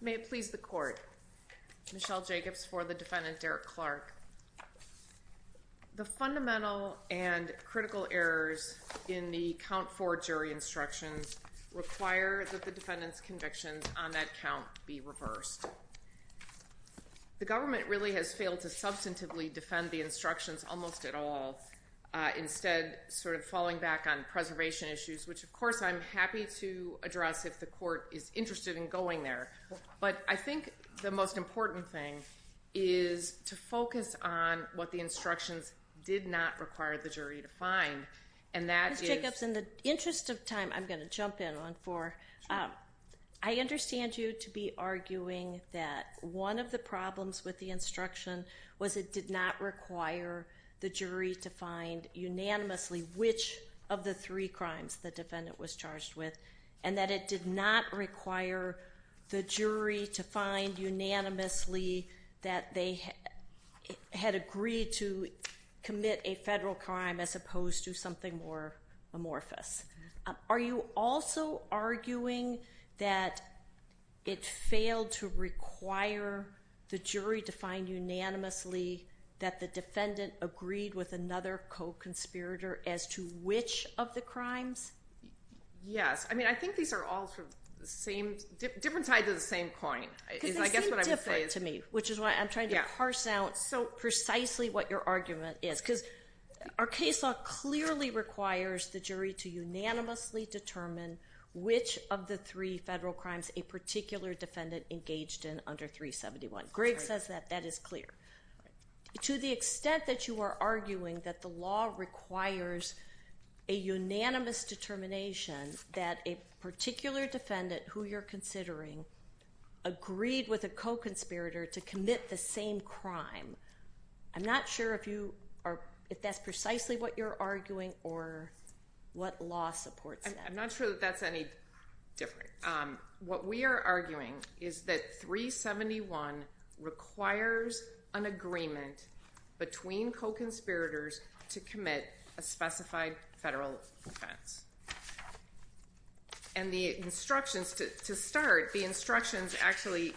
May it please the court. Michelle Jacobs for the defendant Derrick Clark. The fundamental and critical errors in the count for jury instructions require that the defendant's convictions on that count be reversed. The government really has failed to substantively defend the instructions almost at all. Instead sort of falling back on preservation issues which of course I'm happy to address if the court is interested in going there. But I think the most important thing is to focus on what the instructions did not require the jury to find. And that is. Ms. Jacobs in the interest of time I'm going to jump in on for I understand you to be arguing that one of the problems with the instruction was it did not require the jury to find unanimously which of the three crimes the defendant was charged with and that it did not require the jury to find unanimously that they had agreed to commit a federal crime as opposed to something more amorphous. Are you also arguing that it failed to require the jury to find unanimously that the defendant agreed with another co-conspirator as to which of the crimes? Yes I mean I think these are all sort of the same different sides of the same coin. Because they seem different to me which is why I'm trying to parse out so precisely what your argument is because our case law clearly requires the jury to unanimously determine which of the three federal crimes a particular defendant engaged in under 371. Greg says that that is clear. To the extent that you are arguing that the law requires a unanimous determination that a particular defendant who you're considering agreed with a co-conspirator to commit the same crime. I'm not sure if you are if that's precisely what you're arguing or what law supports that. I'm not sure that that's any different. What we are arguing is that 371 requires an agreement between co-conspirators to commit a specified federal offense. And the instructions to start the instructions actually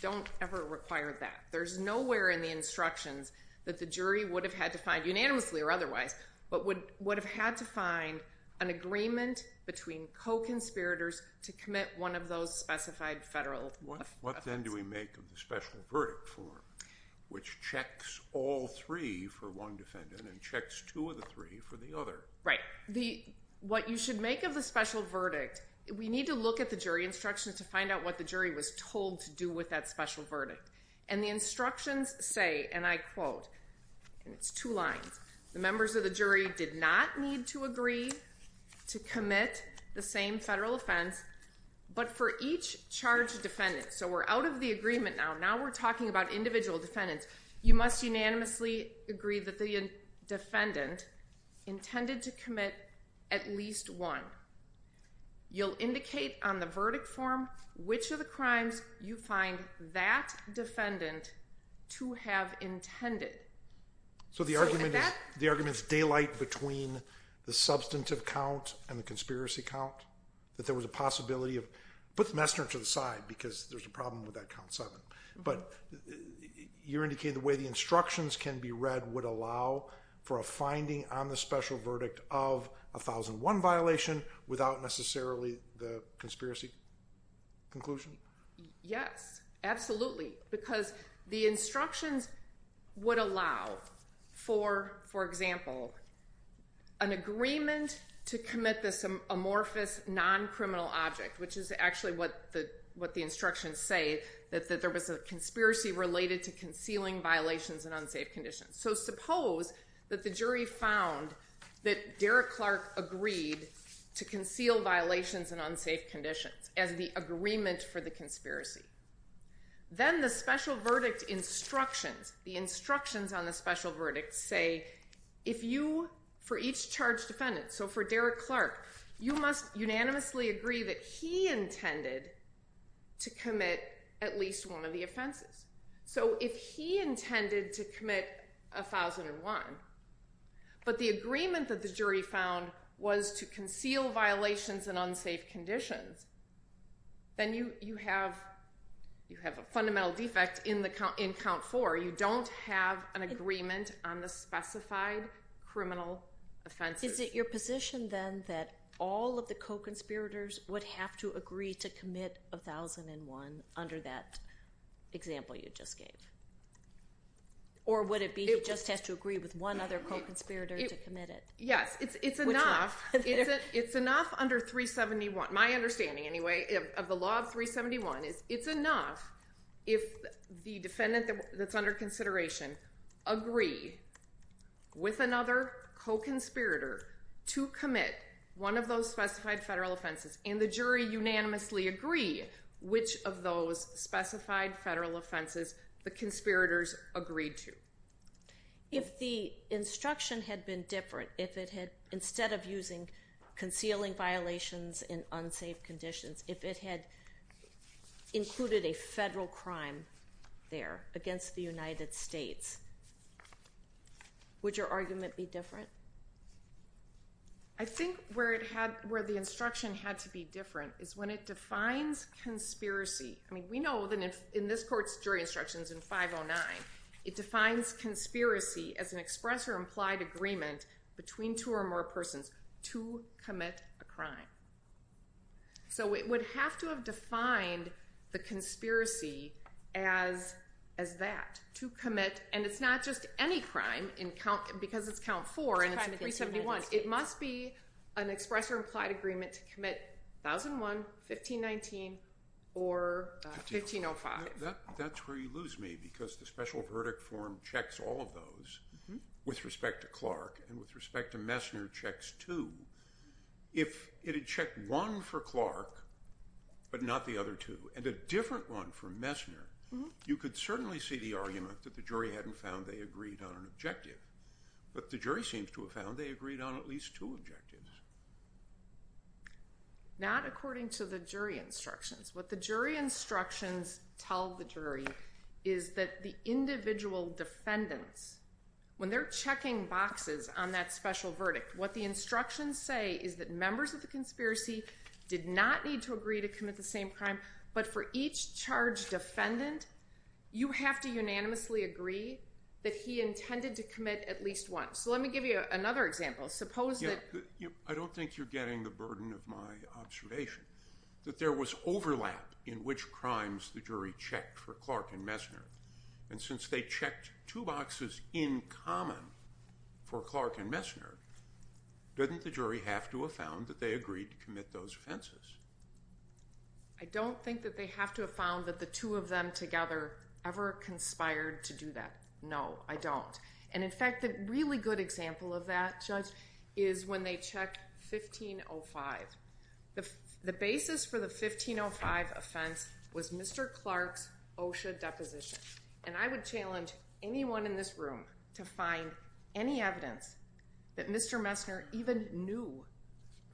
don't ever require that. There's nowhere in the instructions that the jury would have had to find unanimously or otherwise but would would have had to find an agreement between co-conspirators to commit one of those specified federal. What then do we make a special verdict for which checks all three for one or the other? What you should make of the special verdict, we need to look at the jury instructions to find out what the jury was told to do with that special verdict. And the instructions say and I quote, and it's two lines, the members of the jury did not need to agree to commit the same federal offense but for each charged defendant. So we're out of the agreement now. Now we're talking about individual defendants. You must unanimously agree that the defendant intended to commit at least one. You'll indicate on the verdict form which of the crimes you find that defendant to have intended. So the argument is daylight between the substantive count and the conspiracy count. That there was a possibility of, put the messenger to the side because there's a problem with that count seven. But you're indicating the way the instructions can be read would allow for a finding on the special verdict of 1001 violation without necessarily the conspiracy conclusion? Yes, absolutely. Because the instructions would allow for example, an agreement to commit this amorphous non-criminal object which is actually what the instructions say that there was a conspiracy related to concealing violations and unsafe conditions. So suppose that the jury found that Derek Clark agreed to conceal violations and unsafe conditions as the agreement for the conspiracy. Then the special verdict instructions, the instructions on the special verdict say if you, for each charged defendant, so for Derek Clark, you must unanimously agree that he intended to commit at least one of the offenses. So if he intended to commit 1001, but the agreement that the jury found was to conceal violations and unsafe conditions, then you have a fundamental defect in count four. You don't have an agreement on the specified criminal offenses. Is it your position then that all of the you just gave? Or would it be he just has to agree with one other co-conspirator to commit it? Yes, it's enough under 371, my understanding anyway, of the law of 371 is it's enough if the defendant that's under consideration agree with another co-conspirator to commit one of those specified federal offenses and the jury unanimously agree which of those specified federal offenses the conspirators agreed to. If the instruction had been different, if it had instead of using concealing violations in unsafe conditions, if it had included a federal crime there against the United States, would your argument be different? I think where it had, where the instruction had to be different is when it defines conspiracy. I think this court's jury instructions in 509, it defines conspiracy as an express or implied agreement between two or more persons to commit a crime. So it would have to have defined the conspiracy as that, to commit, and it's not just any crime in count, because it's count four it must be an express or implied agreement to commit 1001, 1519, or 1505. That's where you lose me, because the special verdict form checks all of those with respect to Clark and with respect to Messner checks two. If it had checked one for Clark but not the other two, and a different one for Messner, you could certainly see the argument that the jury hadn't found they agreed on an objective. But the jury seems to have found they agreed on at least two objectives. Not according to the jury instructions. What the jury instructions tell the jury is that the individual defendants, when they're checking boxes on that special verdict, what the instructions say is that members of the conspiracy did not need to agree to commit the same crime, but for each charge defendant, you have to unanimously agree that he intended to commit at least one. So let me give you another example. I don't think you're getting the burden of my observation that there was overlap in which crimes the jury checked for Clark and Messner, and since they checked two boxes in common for Clark and Messner, didn't the jury have to have agreed to commit those offenses? I don't think that they have to have found that the two of them together ever conspired to do that. No, I don't. And in fact, a really good example of that, Judge, is when they checked 1505. The basis for the 1505 offense was Mr. Clark's OSHA deposition, and I would challenge anyone in this room to find any evidence that Mr. Messner even knew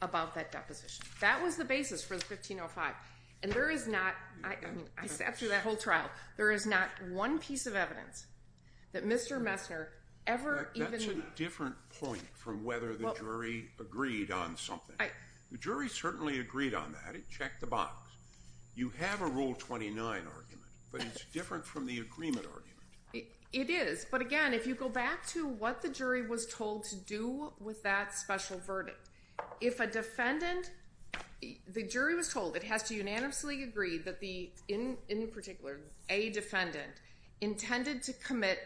about that deposition. That was the basis for the 1505, and there is not, I sat through that whole trial, there is not one piece of evidence that Mr. Messner ever even... That's a different point from whether the jury agreed on something. The jury certainly agreed on that. It checked the box. You have a Rule 29 argument, but it's different from the agreement argument. It is, but again, if you go back to what the jury was told to do with that special verdict, if a defendant, the jury was told it has to unanimously agree that the, in particular, a defendant intended to commit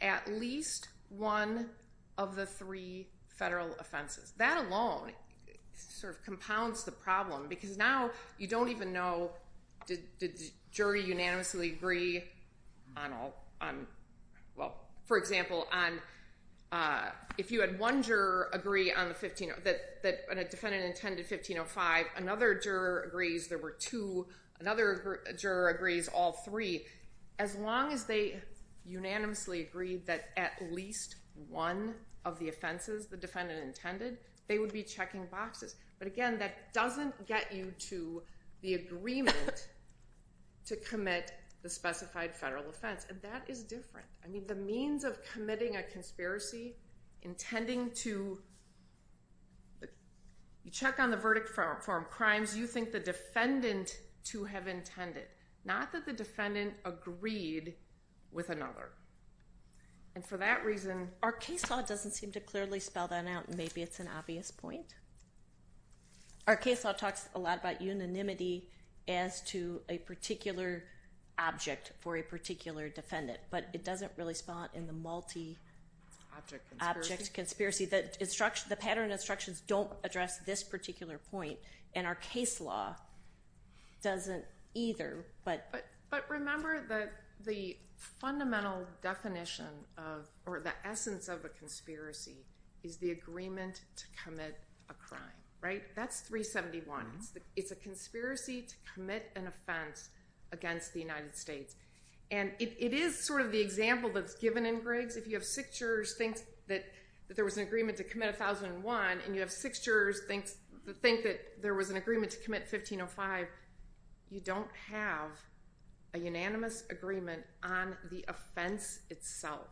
at least one of the three federal offenses. That alone sort of compounds the problem, because now you don't even know, did the jury unanimously agree on all, well, for example, on, if you had one juror agree on the 1505, that a defendant intended 1505, another juror agrees there were two, another juror agrees all three. As long as they unanimously agreed that at least one of the offenses the defendant intended, they would be But again, that doesn't get you to the agreement to commit the specified federal offense, and that is different. I mean, the means of committing a conspiracy, intending to... You check on the verdict from crimes you think the defendant to have intended, not that the defendant agreed with another, and for that reason... Our case law doesn't seem to clearly spell that out, and maybe it's an obvious point. Our case law talks a lot about unanimity as to a particular object for a particular defendant, but it doesn't really spot in the multi-object conspiracy that the pattern instructions don't address this particular point, and our case law doesn't either, but... But remember that the fundamental definition of, or the essence of a is the agreement to commit a crime, right? That's 371. It's a conspiracy to commit an offense against the United States, and it is sort of the example that's given in Griggs. If you have six jurors think that there was an agreement to commit 1001, and you have six jurors think that there was an agreement to commit 1505, you don't have a unanimous agreement on the offense itself,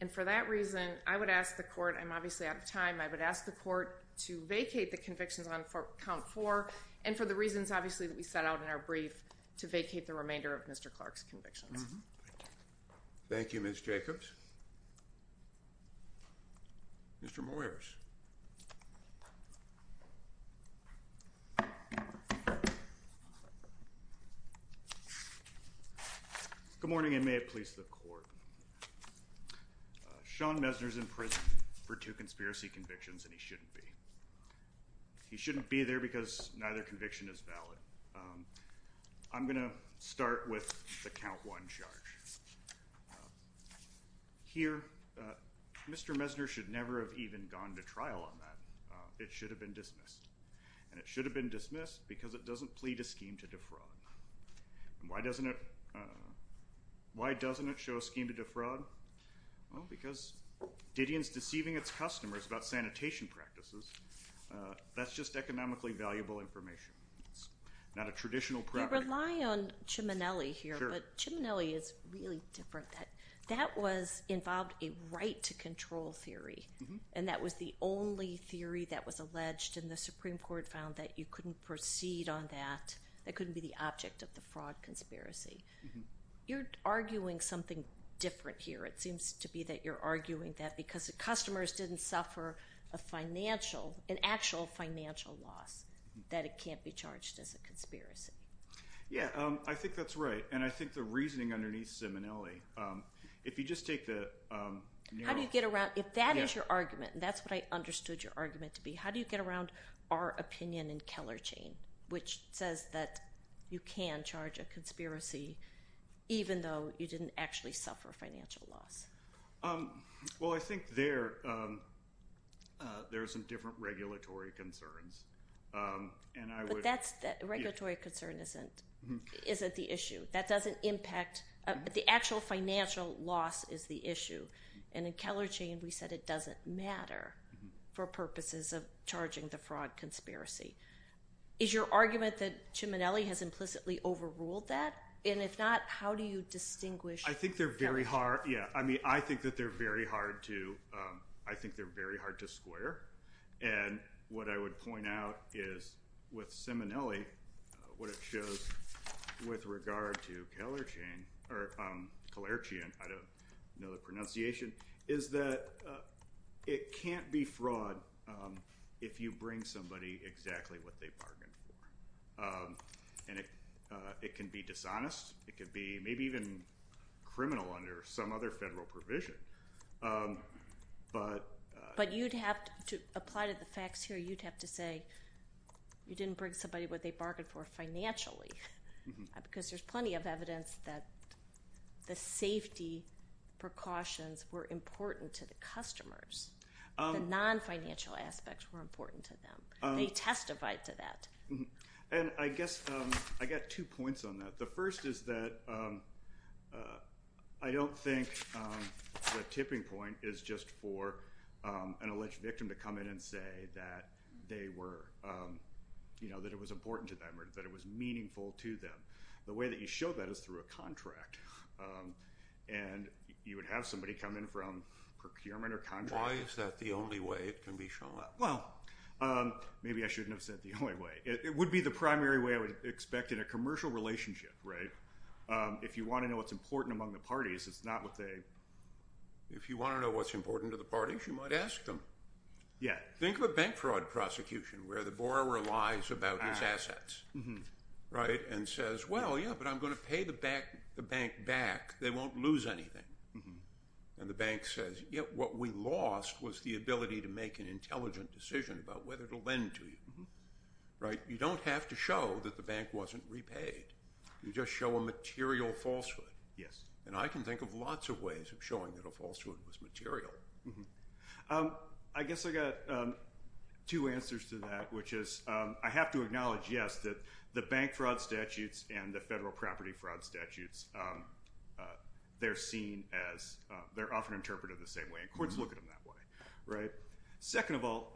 and for that reason, I would ask the court... I'm obviously out of time. I would ask the court to vacate the convictions on count four, and for the reasons obviously that we set out in our brief, to vacate the remainder of Mr. Clark's convictions. Thank you, Ms. Jacobs. Mr. Moyers. Good morning, and may it please the court. Sean Mesner's in prison for two conspiracy convictions, and he shouldn't be. He shouldn't be there because neither conviction is valid. I'm going to start with the count one charge. Here, Mr. Mesner should never have even gone to trial. He's not going to go to trial on that. It should have been dismissed, and it should have been dismissed because it doesn't plead a scheme to defraud. Why doesn't it show a scheme to defraud? Because Didion's deceiving its customers about sanitation practices. That's just economically valuable information. It's not a traditional property. I rely on Ciminelli here, but Ciminelli is really different. That involved a right to control theory, and that was the only theory that was alleged, and the Supreme Court found that you couldn't proceed on that. That couldn't be the object of the fraud conspiracy. You're arguing something different here. It seems to be that you're arguing that because the customers didn't suffer an actual financial loss that it can't be charged as a conspiracy. Yeah, I think that's right, and I think the reasoning underneath Ciminelli, if you just take the... How do you get around... If that is your argument, and that's what I understood your argument to be, how do you get around our opinion in Keller Chain, which says that you can charge a conspiracy even though you didn't actually suffer financial loss? Well, I think there are some different regulatory concerns, and I would... But that's the... A regulatory concern isn't the issue. That doesn't impact... The actual financial loss is the issue, and in Keller Chain, we said it doesn't matter for purposes of charging the fraud conspiracy. Is your argument that Ciminelli has implicitly overruled that, and if not, how do you distinguish... I think they're very hard... Yeah, I mean, I think that they're very hard to... I think they're very hard to square, and what I would point out is with Ciminelli, what it shows with regard to Keller Chain, or Kalerchian, I don't know the pronunciation, is that it can't be fraud if you bring somebody exactly what they bargained for, and it can be dishonest. It could be maybe even criminal under some other federal provision, but... But you'd have to... To apply to the facts here, you'd have to say you didn't bring somebody what they bargained for financially, because there's plenty of evidence that the safety precautions were important to the customers. The non-financial aspects were important to them. They testified to that. And I guess... I got two points on that. The first is that I don't think the tipping point is just for an alleged victim to come in and say that they were... That it was important to them, or that it was meaningful to them. The way that you show that is through a contract, and you would have somebody come in from procurement or contract... Why is that the only way it can be shown? Well, maybe I shouldn't have said the only way. It would be the primary way I would expect in a commercial relationship, right? If you want to know what's important among the parties, it's not what they... If you want to know what's important to the parties, you might ask them. Yeah. Think of a bank fraud prosecution where the borrower lies about his assets, right? And says, well, yeah, but I'm going to pay the bank back. They won't lose anything. And the bank says, yeah, what we lost was the ability to make an intelligent decision about whether to lend to you, right? You don't have to show that the bank wasn't repaid. You just show a material falsehood. Yes. And I can think of lots of ways of showing that a falsehood was material. I guess I got two answers to that, which is I have to acknowledge, yes, that the bank fraud statutes and the federal property fraud statutes, they're seen as... They're often interpreted the same way. And courts look at them that way, right? Second of all,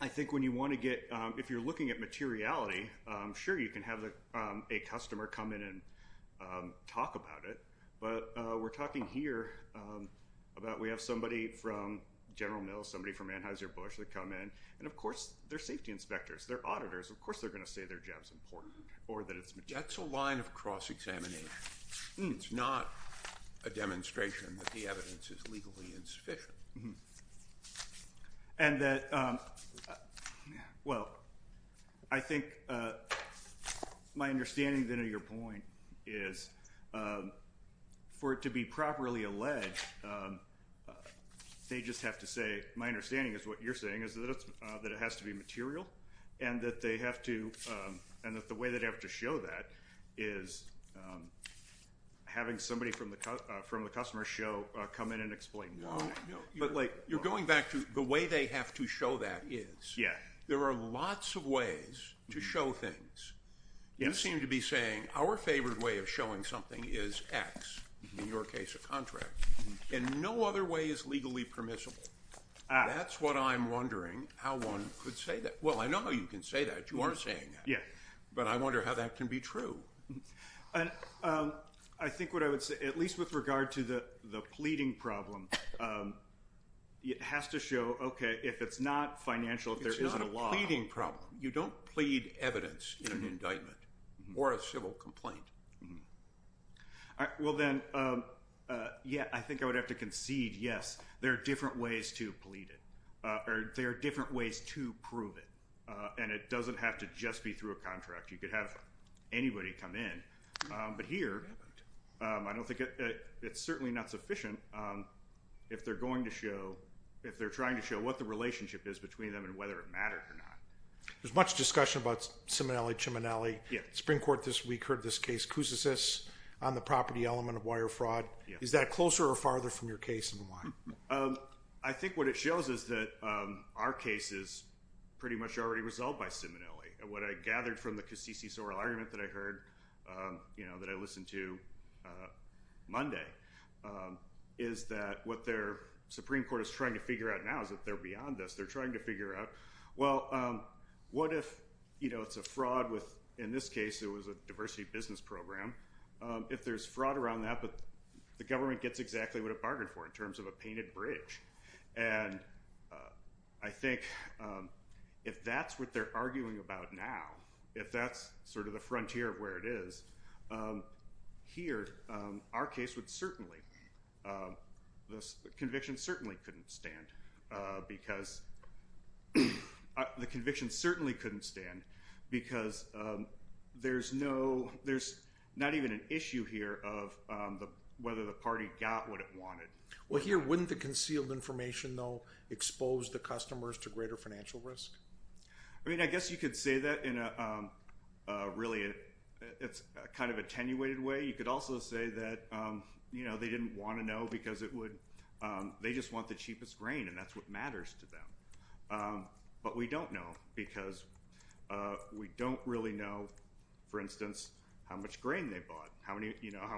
I think when you want to get... If you're looking at materiality, sure, you can have a customer come in and talk about it. But we're talking here about we have somebody from General Mills, somebody from Anheuser-Busch that come in. And of course, they're safety inspectors. They're auditors. Of course, they're going to say their job's important or that it's material. That's a line of cross-examination. It's not a demonstration that the evidence is legally insufficient. And that, well, I think my understanding then of your point is for it to be properly alleged, they just have to say, my understanding is what you're saying is that it has to be material and that they have to... And that the way that they have to show that is having somebody from the customer show come in and explain. But you're going back to the way they have to show that is. Yeah. There are lots of ways to show things. You seem to be saying our favorite way of showing something is X, in your case, a contract. And no other way is legally permissible. That's what I'm wondering how one could say that. Well, I know how you can say that. You aren't saying that. But I wonder how that can be true. And I think what I would say, at least with regard to the pleading problem, it has to show, okay, if it's not financial, if there isn't a law... It's not a pleading problem. You don't plead evidence in an indictment or a civil complaint. All right. Well, then, yeah, I think I would have to concede, yes, there are different ways to plead it or there are different ways to prove it. And it doesn't have to just be through a contract. You could have anybody come in. But here, I don't think it's certainly not sufficient if they're going to show, if they're trying to show what the relationship is between them and whether it mattered or not. There's much discussion about Simonelli-Ciminelli. The Supreme Court this week heard this case, Cusasus, on the property element of wire fraud. Is that closer or farther from your case in the law? I think what it shows is that our case is pretty much already resolved by Simonelli. What I gathered from the Cassisi-Sorrell argument that I heard, that I listened to Monday, is that what their Supreme Court is trying to figure out now is that they're beyond us. They're a fraud with, in this case, it was a diversity business program. If there's fraud around that, but the government gets exactly what it bargained for in terms of a painted bridge. And I think if that's what they're arguing about now, if that's sort of the frontier of where it is, here, our case would certainly, the conviction certainly couldn't stand because there's no, there's not even an issue here of whether the party got what it wanted. Well, here, wouldn't the concealed information, though, expose the customers to greater financial risk? I mean, I guess you could say that in a really, it's kind of attenuated way. You could also say that they didn't want to know because it would, they just want the cheapest grain and that's what matters to them. But we don't know because we don't really know, for instance, how much grain they bought, how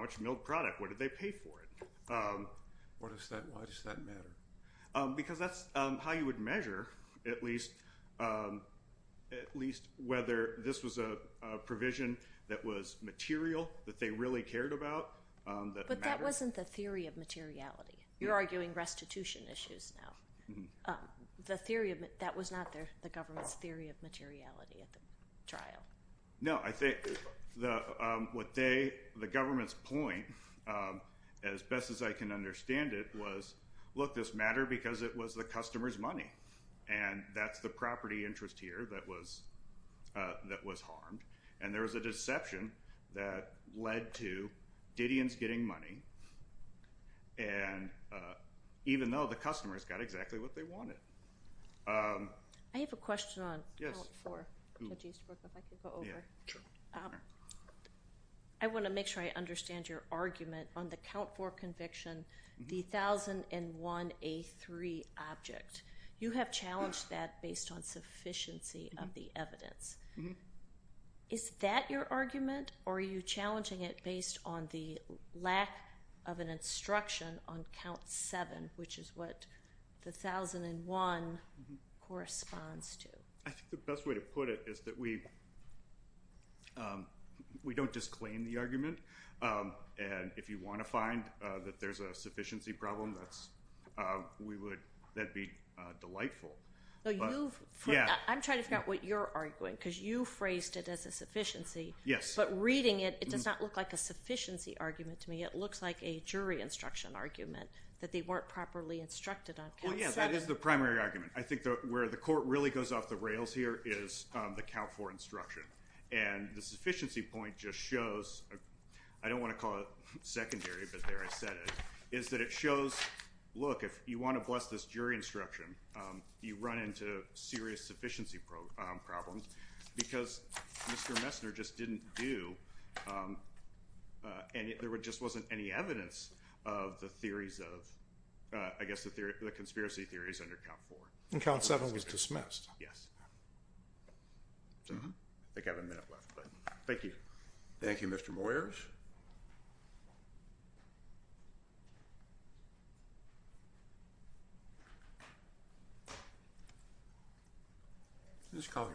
much milk product, what did they pay for it? Why does that matter? Because that's how you would measure at least whether this was a provision that was material, that they really cared about. But that wasn't the theory of materiality. You're arguing restitution issues now. The theory of, that was not the government's theory of materiality at the trial. No, I think what they, the government's point, as best as I can understand it, was, look, this mattered because it was the customer's money and that's the property interest here that was harmed. And there was a deception that led to Didion's getting money and even though the customer's got exactly what they wanted. I have a question on Count 4. I want to make sure I understand your argument on the Count 4 conviction, the 1001A3 object. You have challenged that based on sufficiency of the evidence. Mm-hmm. Is that your argument or are you challenging it based on the lack of an instruction on Count 7, which is what the 1001 corresponds to? I think the best way to put it is that we don't disclaim the argument. And if you want to find that there's a sufficiency problem, that'd be delightful. You, I'm trying to figure out what you're arguing because you phrased it as a sufficiency. Yes. But reading it, it does not look like a sufficiency argument to me. It looks like a jury instruction argument that they weren't properly instructed on Count 7. Well, yeah, that is the primary argument. I think where the court really goes off the rails here is the Count 4 instruction. And the sufficiency point just shows, I don't want to call it secondary, but there I said it, is that it shows, look, if you want to bless this jury instruction, you run into serious sufficiency problems because Mr. Messner just didn't do, and there just wasn't any evidence of the theories of, I guess, the conspiracy theories under Count 4. And Count 7 was dismissed. Yes. I think I have a minute left, but thank you. Thank you, Mr. Moyers. Ms. Collier.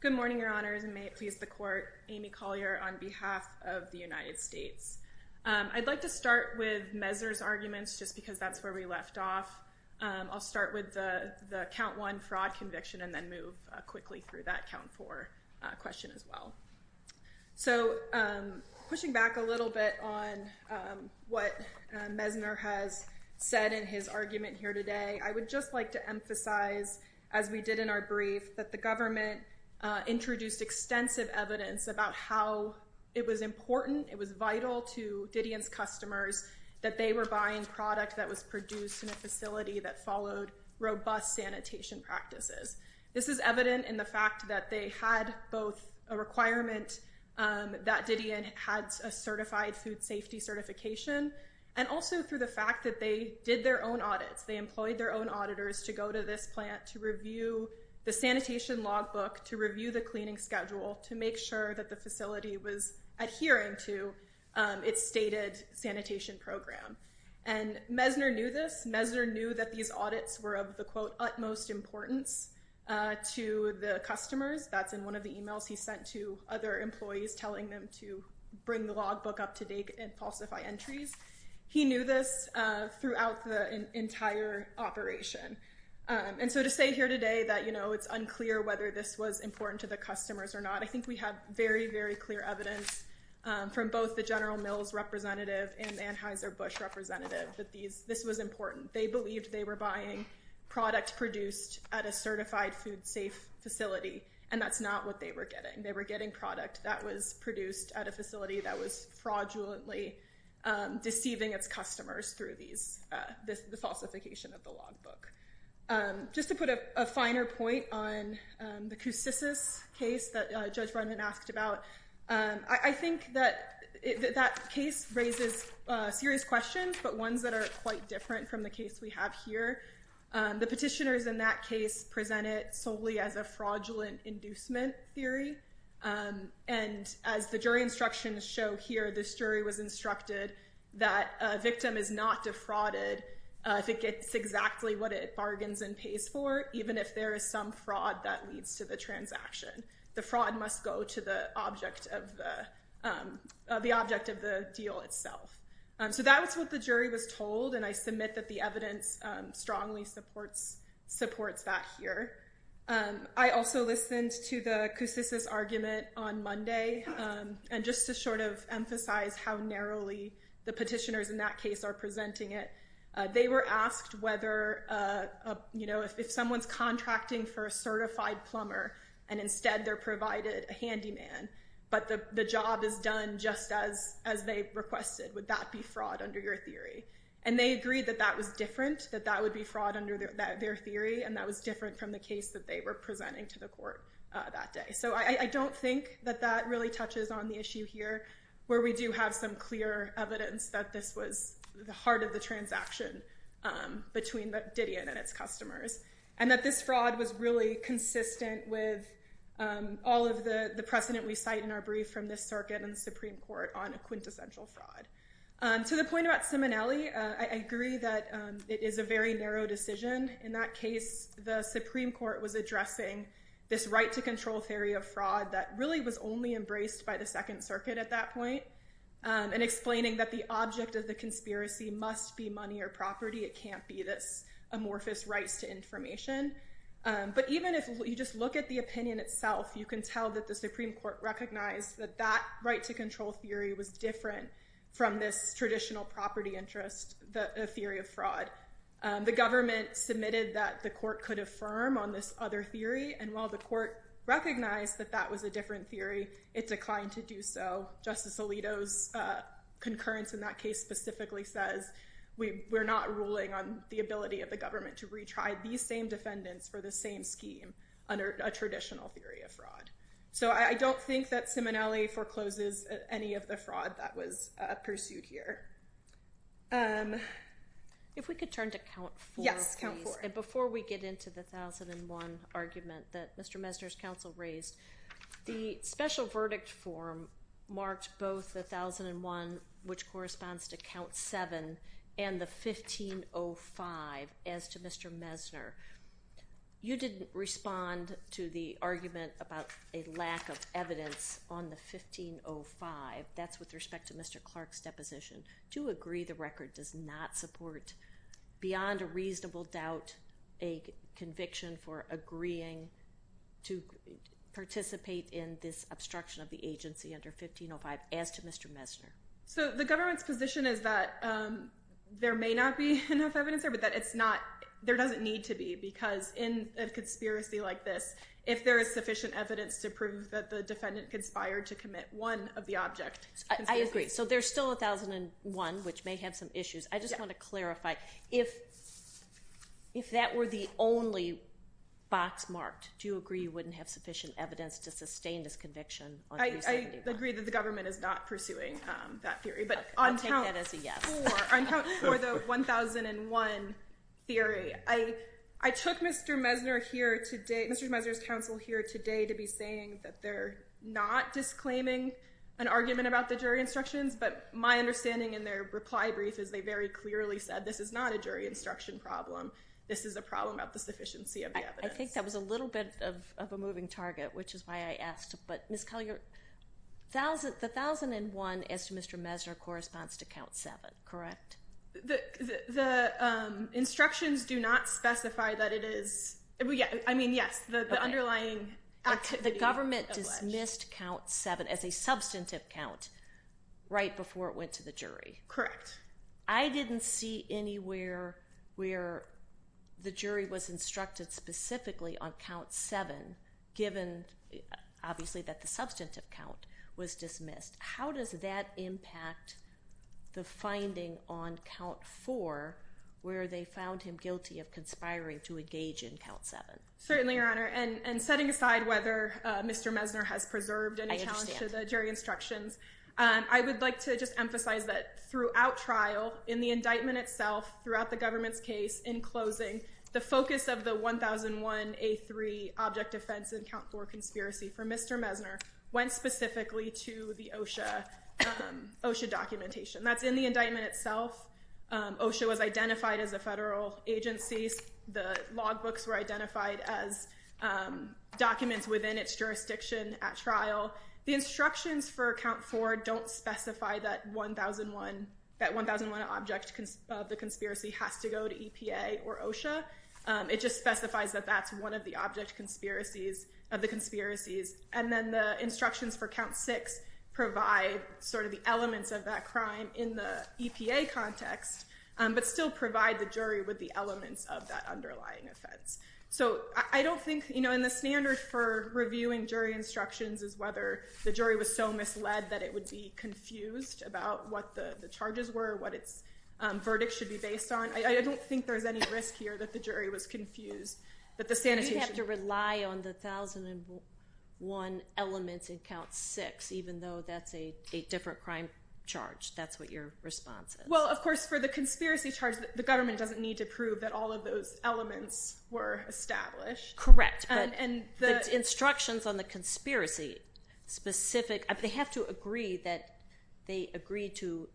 Good morning, Your Honors, and may it please the court, Amy Collier on behalf of the United States. I'd like to start with Messner's arguments just because that's where we left off. I'll start with the Count 1 fraud conviction and then move quickly through that Count 4 question as well. So pushing back a little bit on what Messner has said in his argument here today, I would just like to emphasize, as we did in our brief, that the government introduced extensive evidence about how it was important, it was vital to Didion's customers, that they were buying product that was produced in a facility that followed the requirement that Didion had a certified food safety certification, and also through the fact that they did their own audits. They employed their own auditors to go to this plant to review the sanitation logbook, to review the cleaning schedule, to make sure that the facility was adhering to its stated sanitation program. And Messner knew this. Messner knew that these audits were of the, quote, utmost importance to the customers. That's in one of the emails he sent to other employees telling them to bring the logbook up to date and falsify entries. He knew this throughout the entire operation. And so to say here today that it's unclear whether this was important to the customers or not, I think we have very, very clear evidence from both the General Mills representative and the Anheuser-Busch representative that this was important. They believed they were buying product produced at a certified food safe facility. That's not what they were getting. They were getting product that was produced at a facility that was fraudulently deceiving its customers through the falsification of the logbook. Just to put a finer point on the Koussissis case that Judge Brennan asked about, I think that that case raises serious questions, but ones that are quite different from the case we have here. The petitioners in that case present it solely as a fraudulent inducement theory. And as the jury instructions show here, this jury was instructed that a victim is not defrauded if it gets exactly what it bargains and pays for, even if there is some fraud that leads to the transaction. The fraud must go to the object of the deal itself. So that was what the jury was told, and I submit that the evidence strongly supports that here. I also listened to the Koussissis argument on Monday. And just to sort of emphasize how narrowly the petitioners in that case are presenting it, they were asked whether if someone's contracting for a certified plumber and instead they're provided a handyman, but the job is done just as they requested, would that be fraud under your theory? And they agreed that that was different, that that would be fraud under their theory, and that was different from the case that they were presenting to the court that day. So I don't think that that really touches on the issue here, where we do have some clear evidence that this was the heart of the transaction between Didion and its customers, and that this fraud was really consistent with all of the precedent we cite in our brief from this circuit and the Supreme Court on a quintessential fraud. To the point about Simonelli, I agree that it is a very narrow decision. In that case, the Supreme Court was addressing this right to control theory of fraud that really was only embraced by the Second Circuit at that point, and explaining that the object of the conspiracy must be money or property, it can't be this amorphous rights to information. But even if you just look at the opinion itself, you can tell that the Supreme Court recognized that that right to control theory was different from this traditional property interest theory of fraud. The government submitted that the court could affirm on this other theory, and while the court recognized that that was a different theory, it declined to do so. Justice Alito's concurrence in that case specifically says, we're not ruling on the ability of the government to retry these same defendants for the same scheme under a traditional theory of fraud. So I don't think that Simonelli forecloses any of the fraud that was pursued here. If we could turn to count four, please. Yes, count four. And before we get into the 1001 argument that Mr. Mesner's counsel raised, the special verdict form marked both 1001, which corresponds to count seven, and the 1505 as to Mr. Mesner. You didn't respond to the argument about a lack of evidence on the 1505. That's with respect to Mr. Clark's deposition. To agree the record does not support, beyond a reasonable doubt, a conviction for agreeing to participate in this obstruction of the agency under 1505 as to Mr. Mesner. So the government's position is that there may not be enough evidence there, there doesn't need to be. Because in a conspiracy like this, if there is sufficient evidence to prove that the defendant conspired to commit one of the object. I agree. So there's still 1001, which may have some issues. I just want to clarify, if that were the only box marked, do you agree you wouldn't have sufficient evidence to sustain this conviction? I agree that the government is not pursuing that theory. But I'll take that as a yes. For the 1001 theory. I took Mr. Mesner here today, Mr. Mesner's counsel here today, to be saying that they're not disclaiming an argument about the jury instructions. But my understanding in their reply brief is they very clearly said, this is not a jury instruction problem. This is a problem about the sufficiency of the evidence. I think that was a little bit of a moving target, which is why I asked. But Ms. Collier, the 1001 as to Mr. Mesner corresponds to count seven. Correct? The instructions do not specify that it is. I mean, yes, the underlying activity. The government dismissed count seven as a substantive count right before it went to the jury. Correct. I didn't see anywhere where the jury was instructed specifically on count seven, given, obviously, that the substantive count was dismissed. How does that impact the finding on count four, where they found him guilty of conspiring to engage in count seven? Certainly, Your Honor. And setting aside whether Mr. Mesner has preserved any challenge to the jury instructions, I would like to just emphasize that throughout trial, in the indictment itself, throughout the government's case, in closing, the focus of the 1001A3 object offense and count four conspiracy for Mr. Mesner went specifically to the OSHA documentation. That's in the indictment itself. OSHA was identified as a federal agency. The logbooks were identified as documents within its jurisdiction at trial. The instructions for count four don't specify that 1001, that 1001 object of the conspiracy has to go to EPA or OSHA. It just specifies that that's one of the object conspiracies of the conspiracies. And then the instructions for count six provide sort of the elements of that crime in the EPA context, but still provide the jury with the elements of that underlying offense. So I don't think, you know, and the standard for reviewing jury instructions is whether the jury was so misled that it would be confused about what the charges were, what its verdict should be based on. I don't think there's any risk here that the jury was confused. But the sanitation... You have to rely on the 1001 elements in count six, even though that's a different crime charge. That's what your response is. Well, of course, for the conspiracy charge, the government doesn't need to prove that all of those elements were established. Correct. And the... Instructions on the conspiracy specific, they have to agree that they agree to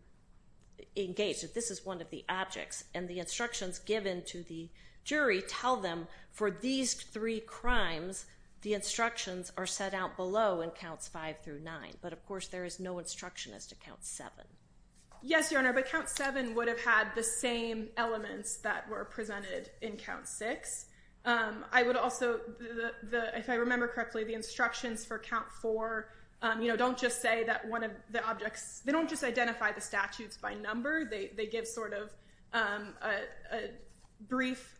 engage that this is one of the objects. And the instructions given to the jury tell them for these three crimes, the instructions are set out below in counts five through nine. But of course, there is no instruction as to count seven. Yes, Your Honor. But count seven would have had the same elements that were presented in count six. I would also... If I remember correctly, the instructions for count four, you know, don't just say that one of the objects... They don't just identify the statutes by number. They give sort of a brief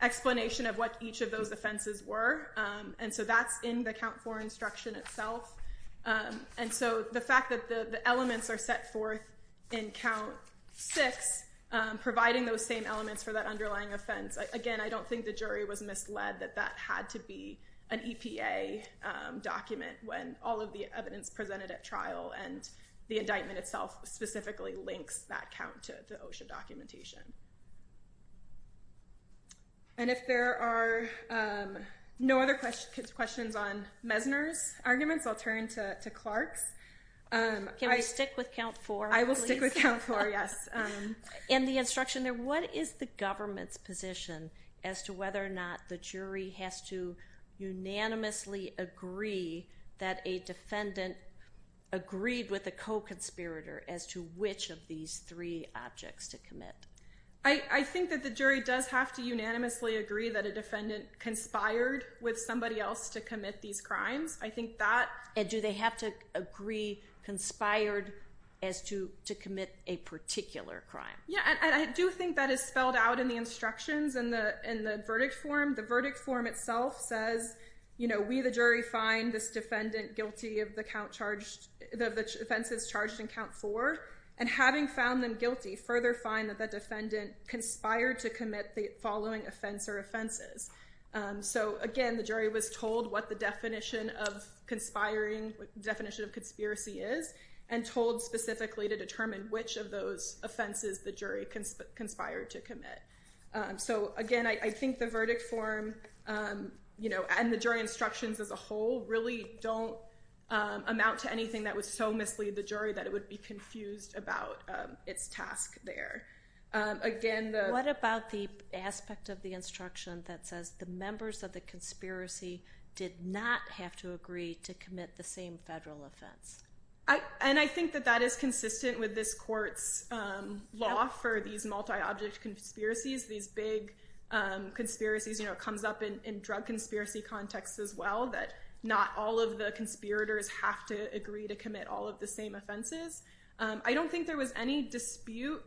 explanation of what each of those offenses were. And so that's in the count four instruction itself. And so the fact that the elements are set forth in count six, providing those same elements for that underlying offense. Again, I don't think the jury was misled that that had to be an EPA document when all of the evidence presented at trial and the indictment itself specifically links that count to the OSHA documentation. And if there are no other questions on Mesner's arguments, I'll turn to Clark's. Can we stick with count four? I will stick with count four, yes. In the instruction there, what is the government's position as to whether or not the jury has to unanimously agree that a defendant agreed with a co-conspirator as to which of these three objects to commit? I think that the jury does have to unanimously agree that a defendant conspired with somebody else to commit these crimes. I think that... And do they have to agree conspired as to commit a particular crime? Yeah, I do think that is spelled out in the instructions in the verdict form. The verdict form itself says, you know, may the jury find this defendant guilty of the offenses charged in count four, and having found them guilty, further find that the defendant conspired to commit the following offense or offenses. So again, the jury was told what the definition of conspiracy is and told specifically to determine which of those offenses the jury conspired to commit. So again, I think the verdict form, you know, and the jury instructions as a whole really don't amount to anything that would so mislead the jury that it would be confused about its task there. Again, the... What about the aspect of the instruction that says the members of the conspiracy did not have to agree to commit the same federal offense? And I think that that is consistent with this court's law for these multi-object conspiracies, these big conspiracies. You know, it comes up in drug conspiracy contexts as well, that not all of the conspirators have to agree to commit all of the same offenses. I don't think there was any dispute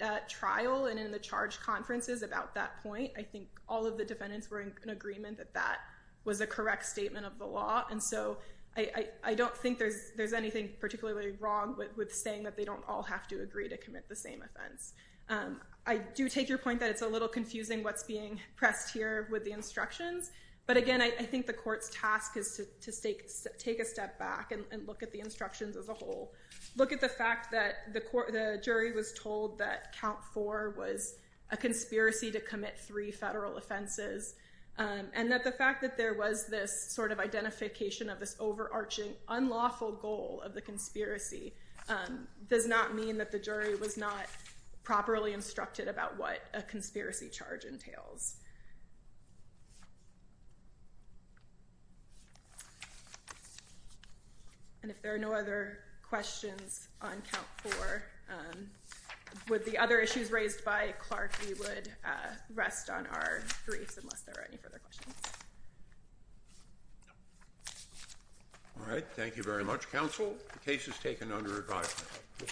at trial and in the charge conferences about that point. I think all of the defendants were in agreement that that was a correct statement of the law. And so I don't think there's anything particularly wrong with saying that they don't all have to agree to commit the same offense. I do take your point that it's a little confusing what's being pressed here with the instructions. But again, I think the court's task is to take a step back and look at the instructions as a whole. Look at the fact that the jury was told that count four was a conspiracy to commit three federal offenses. And that the fact that there was this sort of identification of this overarching unlawful goal of the conspiracy does not mean that the jury was not properly instructed about what a conspiracy charge entails. And if there are no other questions on count four, with the other issues raised by Clark, we would rest on our briefs unless there are any further questions. All right. Thank you very much, counsel. The case is taken under review.